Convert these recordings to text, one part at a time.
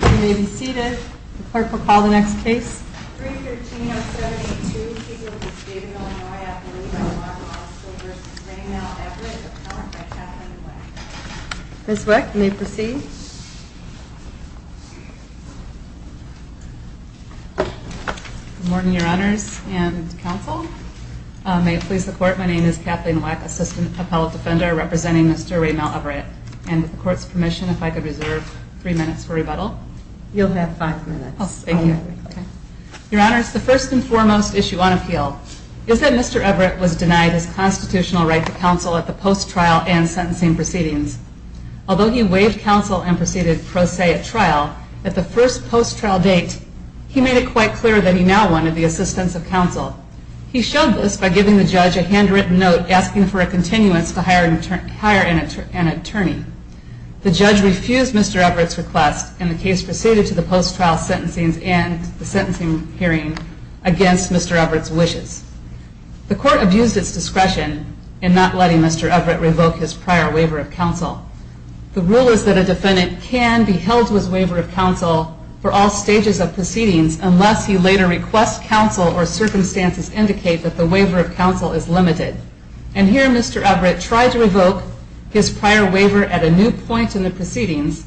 You may be seated. The clerk will call the next case. 313-072, Cecil v. David, Illinois, appellee by law in the law school v. Raymount Everett, appellant by Kathleen Weck. Ms. Weck, you may proceed. Good morning, your honors and counsel. May it please the court, my name is Kathleen Weck, assistant appellate defender representing Mr. Raymount Everett. And with the court's permission, if I could reserve three minutes for rebuttal. You'll have five minutes. Thank you. Your honors, the first and foremost issue on appeal is that Mr. Everett was denied his constitutional right to counsel at the post-trial and sentencing proceedings. Although he waived counsel and proceeded pro se at trial, at the first post-trial date, he made it quite clear that he now wanted the assistance of counsel. He showed this by giving the judge a handwritten note asking for a continuance to hire an attorney. The judge refused Mr. Everett's request and the case proceeded to the post-trial sentencing hearing against Mr. Everett's wishes. The court abused its discretion in not letting Mr. Everett revoke his prior waiver of counsel. The rule is that a defendant can be held with waiver of counsel for all stages of proceedings unless he later requests counsel or circumstances indicate that the waiver of counsel is limited. And here Mr. Everett tried to revoke his prior waiver at a new point in the proceedings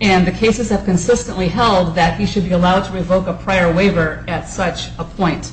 and the cases have consistently held that he should be allowed to revoke a prior waiver at such a point.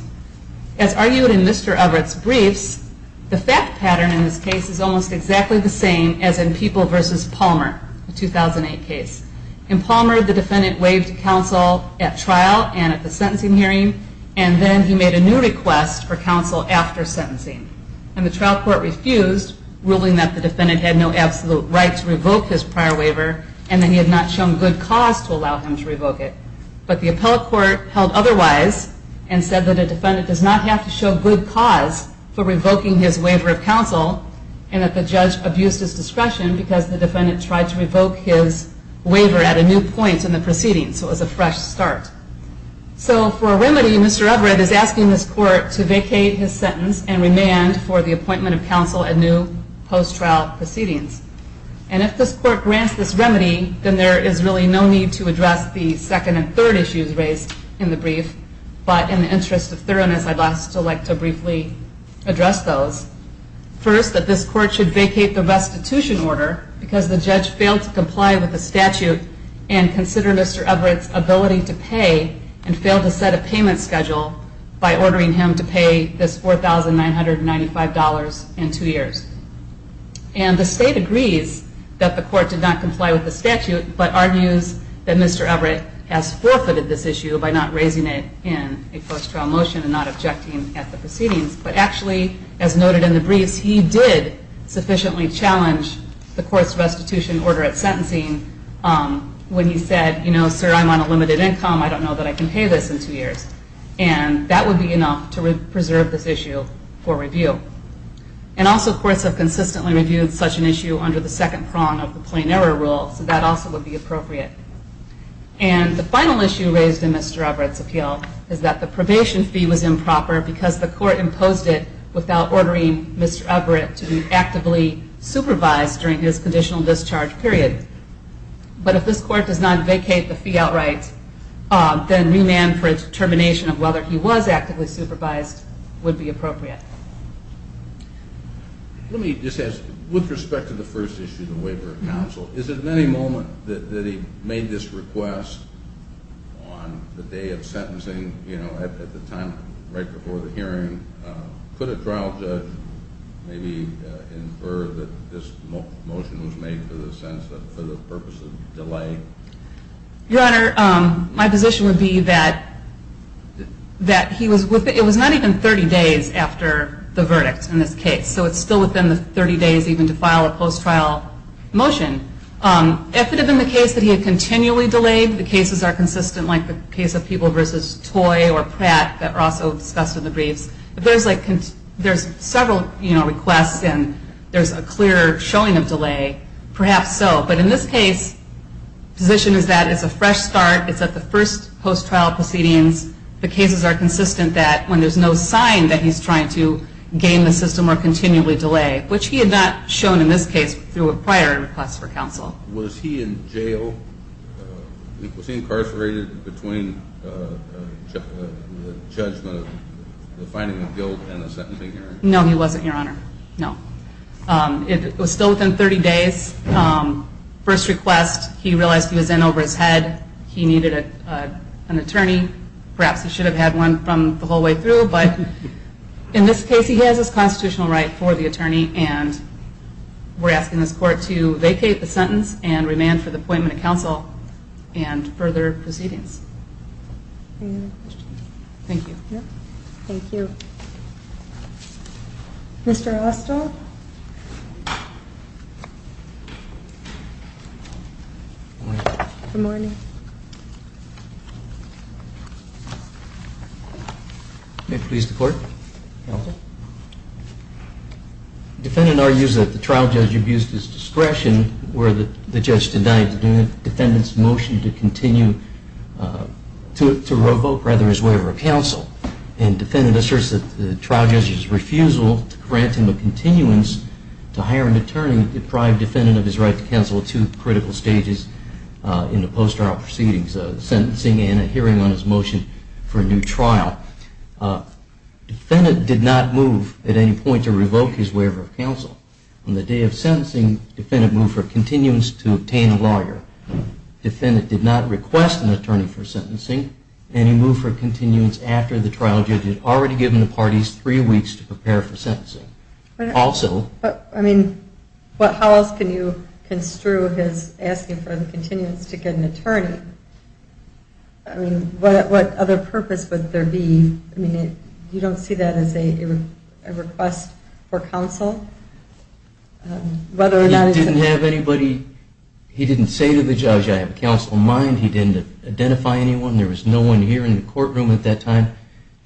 As argued in Mr. Everett's briefs, the fact pattern in this case is almost exactly the same as in People v. Palmer, the 2008 case. In Palmer, the defendant waived counsel at trial and at the sentencing hearing and then he made a new request for counsel after sentencing. And the trial court refused, ruling that the defendant had no absolute right to revoke his prior waiver and that he had not shown good cause to allow him to revoke it. But the appellate court held otherwise and said that a defendant does not have to show good cause for revoking his waiver of counsel and that the judge abused his discretion because the defendant tried to revoke his waiver at a new point in the proceedings. So it was a fresh start. So for a remedy, Mr. Everett is asking this court to vacate his sentence and remand for the appointment of counsel at new post-trial proceedings. And if this court grants this remedy, then there is really no need to address the second and third issues raised in the brief, but in the interest of thoroughness, I'd like to briefly address those. First, that this court should vacate the restitution order because the judge failed to comply with the statute and consider Mr. Everett's ability to pay and failed to set a payment schedule by ordering him to pay this $4,995 in two years. And the state agrees that the court did not comply with the statute, but argues that Mr. Everett has forfeited this issue by not raising it in a post-trial motion and not objecting at the proceedings. But actually, as noted in the briefs, he did sufficiently challenge the court's restitution order at sentencing when he said, you know, sir, I'm on a limited income. I don't know that I can pay this in two years. And that would be enough to preserve this issue for review. And also, courts have consistently reviewed such an issue under the second prong of the plain error rule, so that also would be appropriate. And the final issue raised in Mr. Everett's appeal is that the probation fee was improper because the court imposed it without ordering Mr. Everett to be actively supervised during his conditional discharge period. But if this court does not vacate the fee outright, then remand for termination of whether he was actively supervised would be appropriate. Let me just ask, with respect to the first issue, the waiver of counsel, is it at any moment that he made this request on the day of sentencing, you know, at the time right before the hearing? Could a trial judge maybe infer that this motion was made for the purpose of delay? Your Honor, my position would be that it was not even 30 days after the verdict in this case, so it's still within the 30 days even to file a post-trial motion. If it had been the case that he had continually delayed, the cases are consistent like the case of people versus Toy or Pratt that were also discussed in the briefs. If there's several requests and there's a clear showing of delay, perhaps so. But in this case, the position is that it's a fresh start. It's at the first post-trial proceedings. The cases are consistent that when there's no sign that he's trying to gain the system or continually delay, which he had not shown in this case through a prior request for counsel. Was he in jail? Was he incarcerated between the judgment of the finding of guilt and the sentencing hearing? No, he wasn't, Your Honor. No. It was still within 30 days. First request, he realized he was in over his head. He needed an attorney. Perhaps he should have had one from the whole way through. But in this case, he has his constitutional right for the attorney, and we're asking this court to vacate the sentence and remand for the appointment of counsel and further proceedings. Any other questions? Thank you. Thank you. Thank you. Mr. Austell? Good morning. May it please the Court? The defendant argues that the trial judge abused his discretion where the judge denied the defendant's motion to continue to revoke, rather, his waiver of counsel. And the defendant asserts that the trial judge's refusal to grant him a continuance to hire an attorney deprived the defendant of his right to counsel at two critical stages in the post-trial proceedings, sentencing and a hearing on his motion for a new trial. The defendant did not move at any point to revoke his waiver of counsel. On the day of sentencing, the defendant moved for continuance to obtain a lawyer. The defendant did not request an attorney for sentencing, and he moved for continuance after the trial judge had already given the parties three weeks to prepare for sentencing. Also... I mean, how else can you construe his asking for the continuance to get an attorney? I mean, what other purpose would there be? I mean, you don't see that as a request for counsel? He didn't have anybody. He didn't say to the judge, I have a counsel in mind. He didn't identify anyone. There was no one here in the courtroom at that time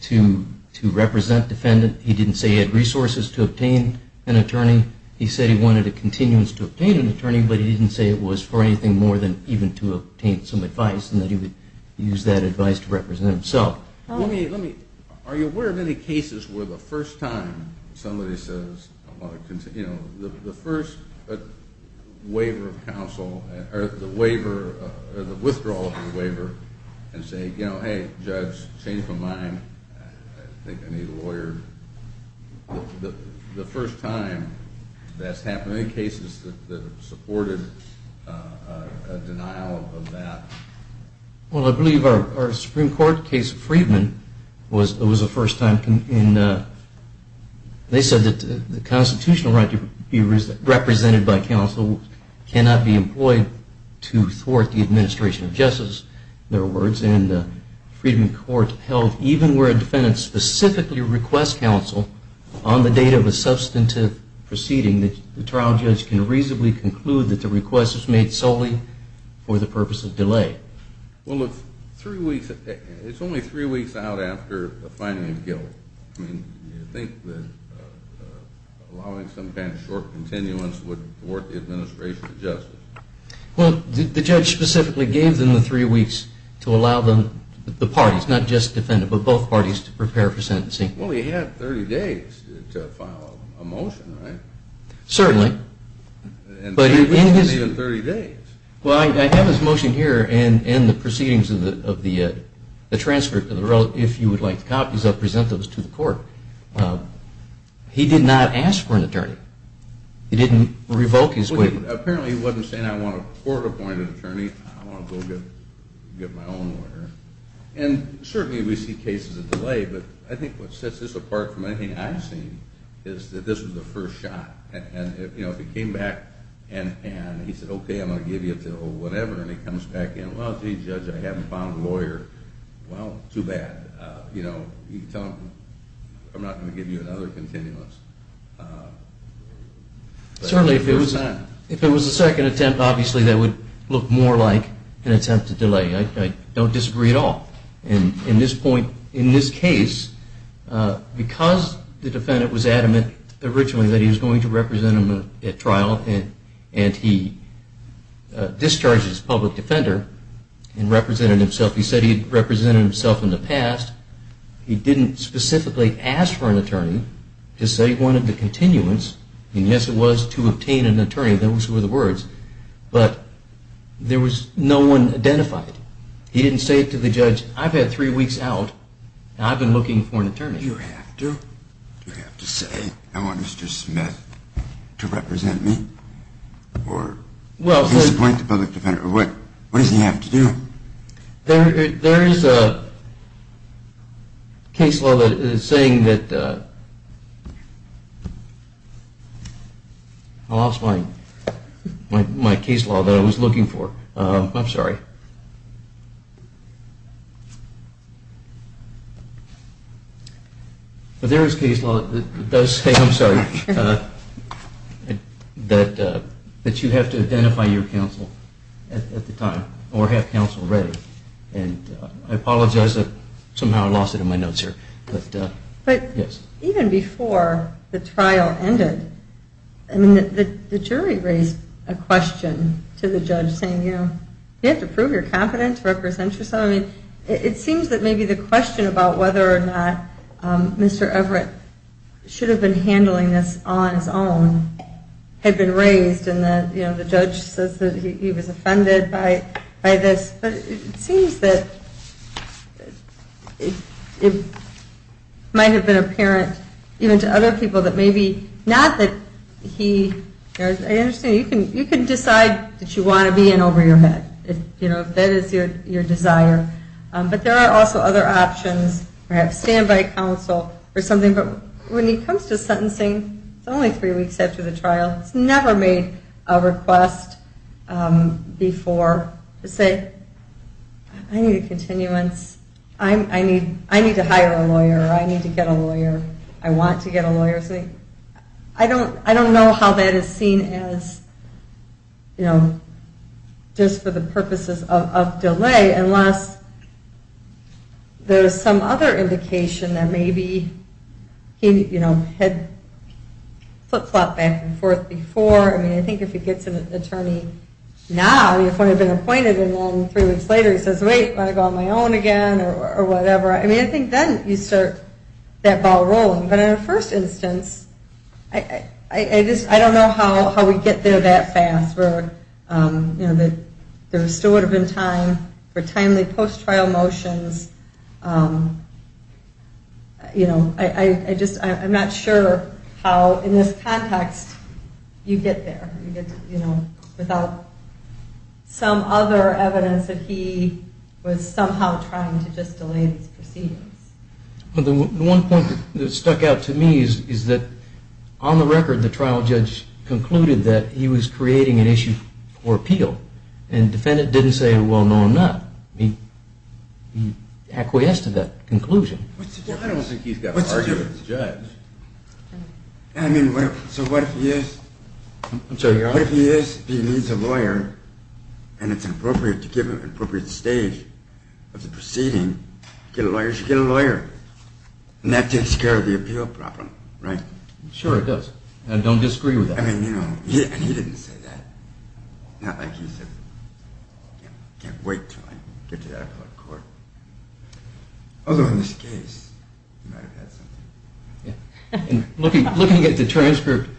to represent the defendant. He didn't say he had resources to obtain an attorney. He said he wanted a continuance to obtain an attorney, but he didn't say it was for anything more than even to obtain some advice and that he would use that advice to represent himself. Are you aware of any cases where the first time somebody says, you know, the first waiver of counsel, or the withdrawal of the waiver, and say, you know, hey, judge, change my mind. I think I need a lawyer. The first time that's happened, any cases that have supported a denial of that? Well, I believe our Supreme Court case, Freedman, was the first time. They said that the constitutional right to be represented by counsel cannot be employed to thwart the administration of justice, in other words, and Freedman Court held even where a defendant specifically requests counsel, on the date of a substantive proceeding, the trial judge can reasonably conclude that the request was made solely for the purpose of delay. Well, it's only three weeks out after the finding of guilt. I mean, do you think that allowing some kind of short continuance would thwart the administration of justice? Well, the judge specifically gave them the three weeks to allow the parties, not just the defendant, but both parties to prepare for sentencing. Well, he had 30 days to file a motion, right? Certainly. And 30 weeks isn't even 30 days. Well, I have his motion here, and the proceedings of the transfer, if you would like copies, I'll present those to the court. He did not ask for an attorney. He didn't revoke his waiver. Apparently, he wasn't saying, I want a court-appointed attorney. I want to go get my own lawyer. And certainly we see cases of delay, but I think what sets this apart from anything I've seen is that this was the first shot. And, you know, if he came back and he said, okay, I'm going to give you until whatever, and he comes back in, well, gee, Judge, I haven't found a lawyer, well, too bad. You know, you can tell him, I'm not going to give you another continuance. Certainly, if it was a second attempt, obviously that would look more like an attempt to delay. I don't disagree at all. And in this point, in this case, because the defendant was adamant originally that he was going to represent him at trial and he discharged his public defender and represented himself, he said he had represented himself in the past. He didn't specifically ask for an attorney. He said he wanted the continuance. Those were the words. But there was no one identified. He didn't say to the judge, I've had three weeks out, and I've been looking for an attorney. Do you have to? Do you have to say, I want Mr. Smith to represent me? Or disappoint the public defender? Or what does he have to do? There is a case law that is saying that, I lost my case law that I was looking for. I'm sorry. But there is case law that does say, I'm sorry, that you have to identify your counsel at the time or have counsel ready. And I apologize that somehow I lost it in my notes here. But even before the trial ended, the jury raised a question to the judge saying, you have to prove your competence to represent yourself. It seems that maybe the question about whether or not Mr. Everett should have been handling this on his own had been raised and the judge says that he was offended by this. But it seems that it might have been apparent even to other people that maybe not that he, I understand you can decide that you want to be in over your head, if that is your desire. But there are also other options, perhaps standby counsel or something. But when it comes to sentencing, it's only three weeks after the trial. It's never made a request before to say, I need a continuance. I need to hire a lawyer or I need to get a lawyer. I want to get a lawyer. I don't know how that is seen as just for the purposes of delay, unless there is some other indication that maybe he had flip-flopped back and forth before. I think if he gets an attorney now, he would have been appointed, and then three weeks later he says, wait, do I want to go on my own again or whatever. I think then you start that ball rolling. But in the first instance, I don't know how we get there that fast. There still would have been time for timely post-trial motions. I'm not sure how in this context you get there without some other evidence that he was somehow trying to just delay these proceedings. The one point that stuck out to me is that on the record, the trial judge concluded that he was creating an issue for appeal. And the defendant didn't say, well, no, I'm not. He acquiesced to that conclusion. I don't think he's got to argue with the judge. I mean, so what if he is? I'm sorry, your Honor? What if he is? If he needs a lawyer and it's appropriate to give him an appropriate stage of the proceeding, get a lawyer, get a lawyer. And that takes care of the appeal problem, right? Sure, it does. And don't disagree with that. I mean, you know, and he didn't say that. Not like he said, can't wait till I get to that court. Although in this case, he might have had something. Looking at the transcript,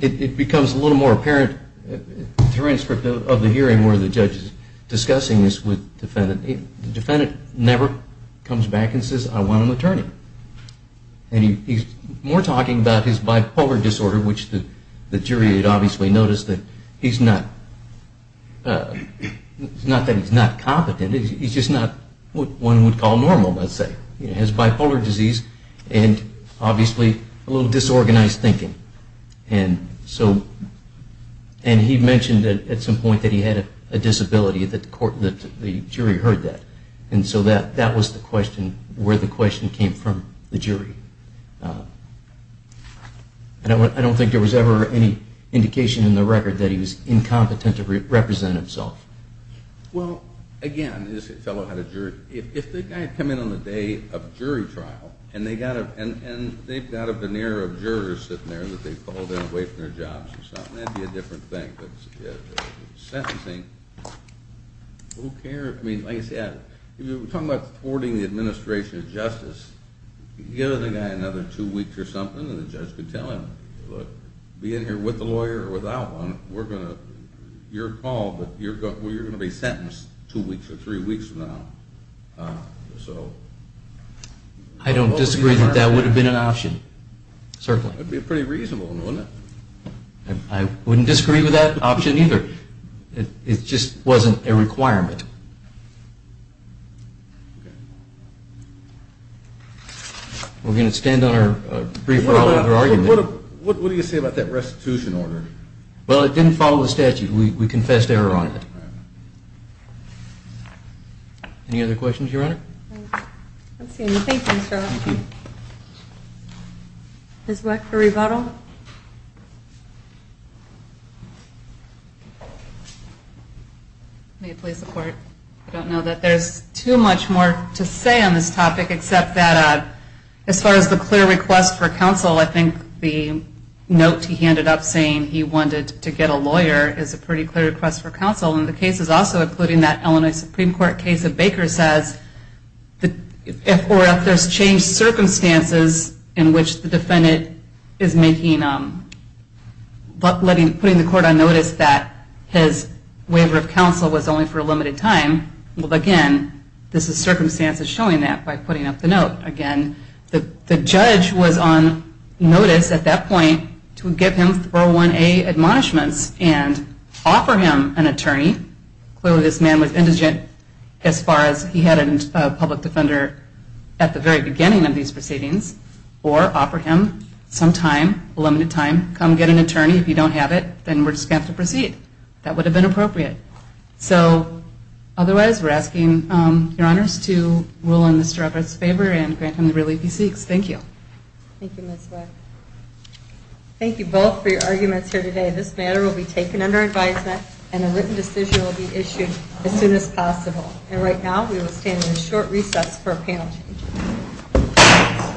it becomes a little more apparent, the transcript of the hearing where the judge is discussing this with the defendant, the defendant never comes back and says, I want an attorney. And he's more talking about his bipolar disorder, which the jury had obviously noticed that he's not competent. He's just not what one would call normal, let's say. He has bipolar disease and obviously a little disorganized thinking. And he mentioned at some point that he had a disability, that the jury heard that. And so that was the question, where the question came from, the jury. I don't think there was ever any indication in the record that he was incompetent to represent himself. Well, again, this fellow had a jury. If the guy had come in on the day of jury trial and they've got a veneer of jurors sitting there that they've called in away from their jobs or something, that would be a different thing. But sentencing, who cares? I mean, like I said, we're talking about thwarting the administration of justice. You give the guy another two weeks or something and the judge could tell him, look, be in here with a lawyer or without one, you're called, but you're going to be sentenced two weeks or three weeks from now. So... I don't disagree that that would have been an option, certainly. That would be pretty reasonable, wouldn't it? I wouldn't disagree with that option either. It just wasn't a requirement. We're going to stand on our brief oral argument. What do you say about that restitution order? Well, it didn't follow the statute. We confessed error on it. Any other questions, Your Honor? I don't see any. Thank you, Mr. O'Rourke. Thank you. Ms. Weck for rebuttal. May it please the Court, I don't know that there's too much more to say on this topic except that as far as the clear request for counsel, I think the note he handed up saying he wanted to get a lawyer is a pretty clear request for counsel and the case is also including that Illinois Supreme Court case that Baker says if or if there's changed circumstances in which the defendant is making... putting the Court on notice that his waiver of counsel was only for a limited time, well, again, this is circumstances showing that by putting up the note. Again, the judge was on notice at that point to give him 401A admonishments and offer him an attorney. Clearly this man was indigent as far as he had a public defender at the very beginning of these proceedings or offer him some time, limited time, come get an attorney. If you don't have it, then we're just going to have to proceed. That would have been appropriate. So otherwise, we're asking Your Honors to rule in Mr. Ruppert's favor and grant him the relief he seeks. Thank you. Thank you, Ms. Weck. Thank you both for your arguments here today. This matter will be taken under advisement and a written decision will be issued as soon as possible. And right now, we will stand in short recess for a panel change.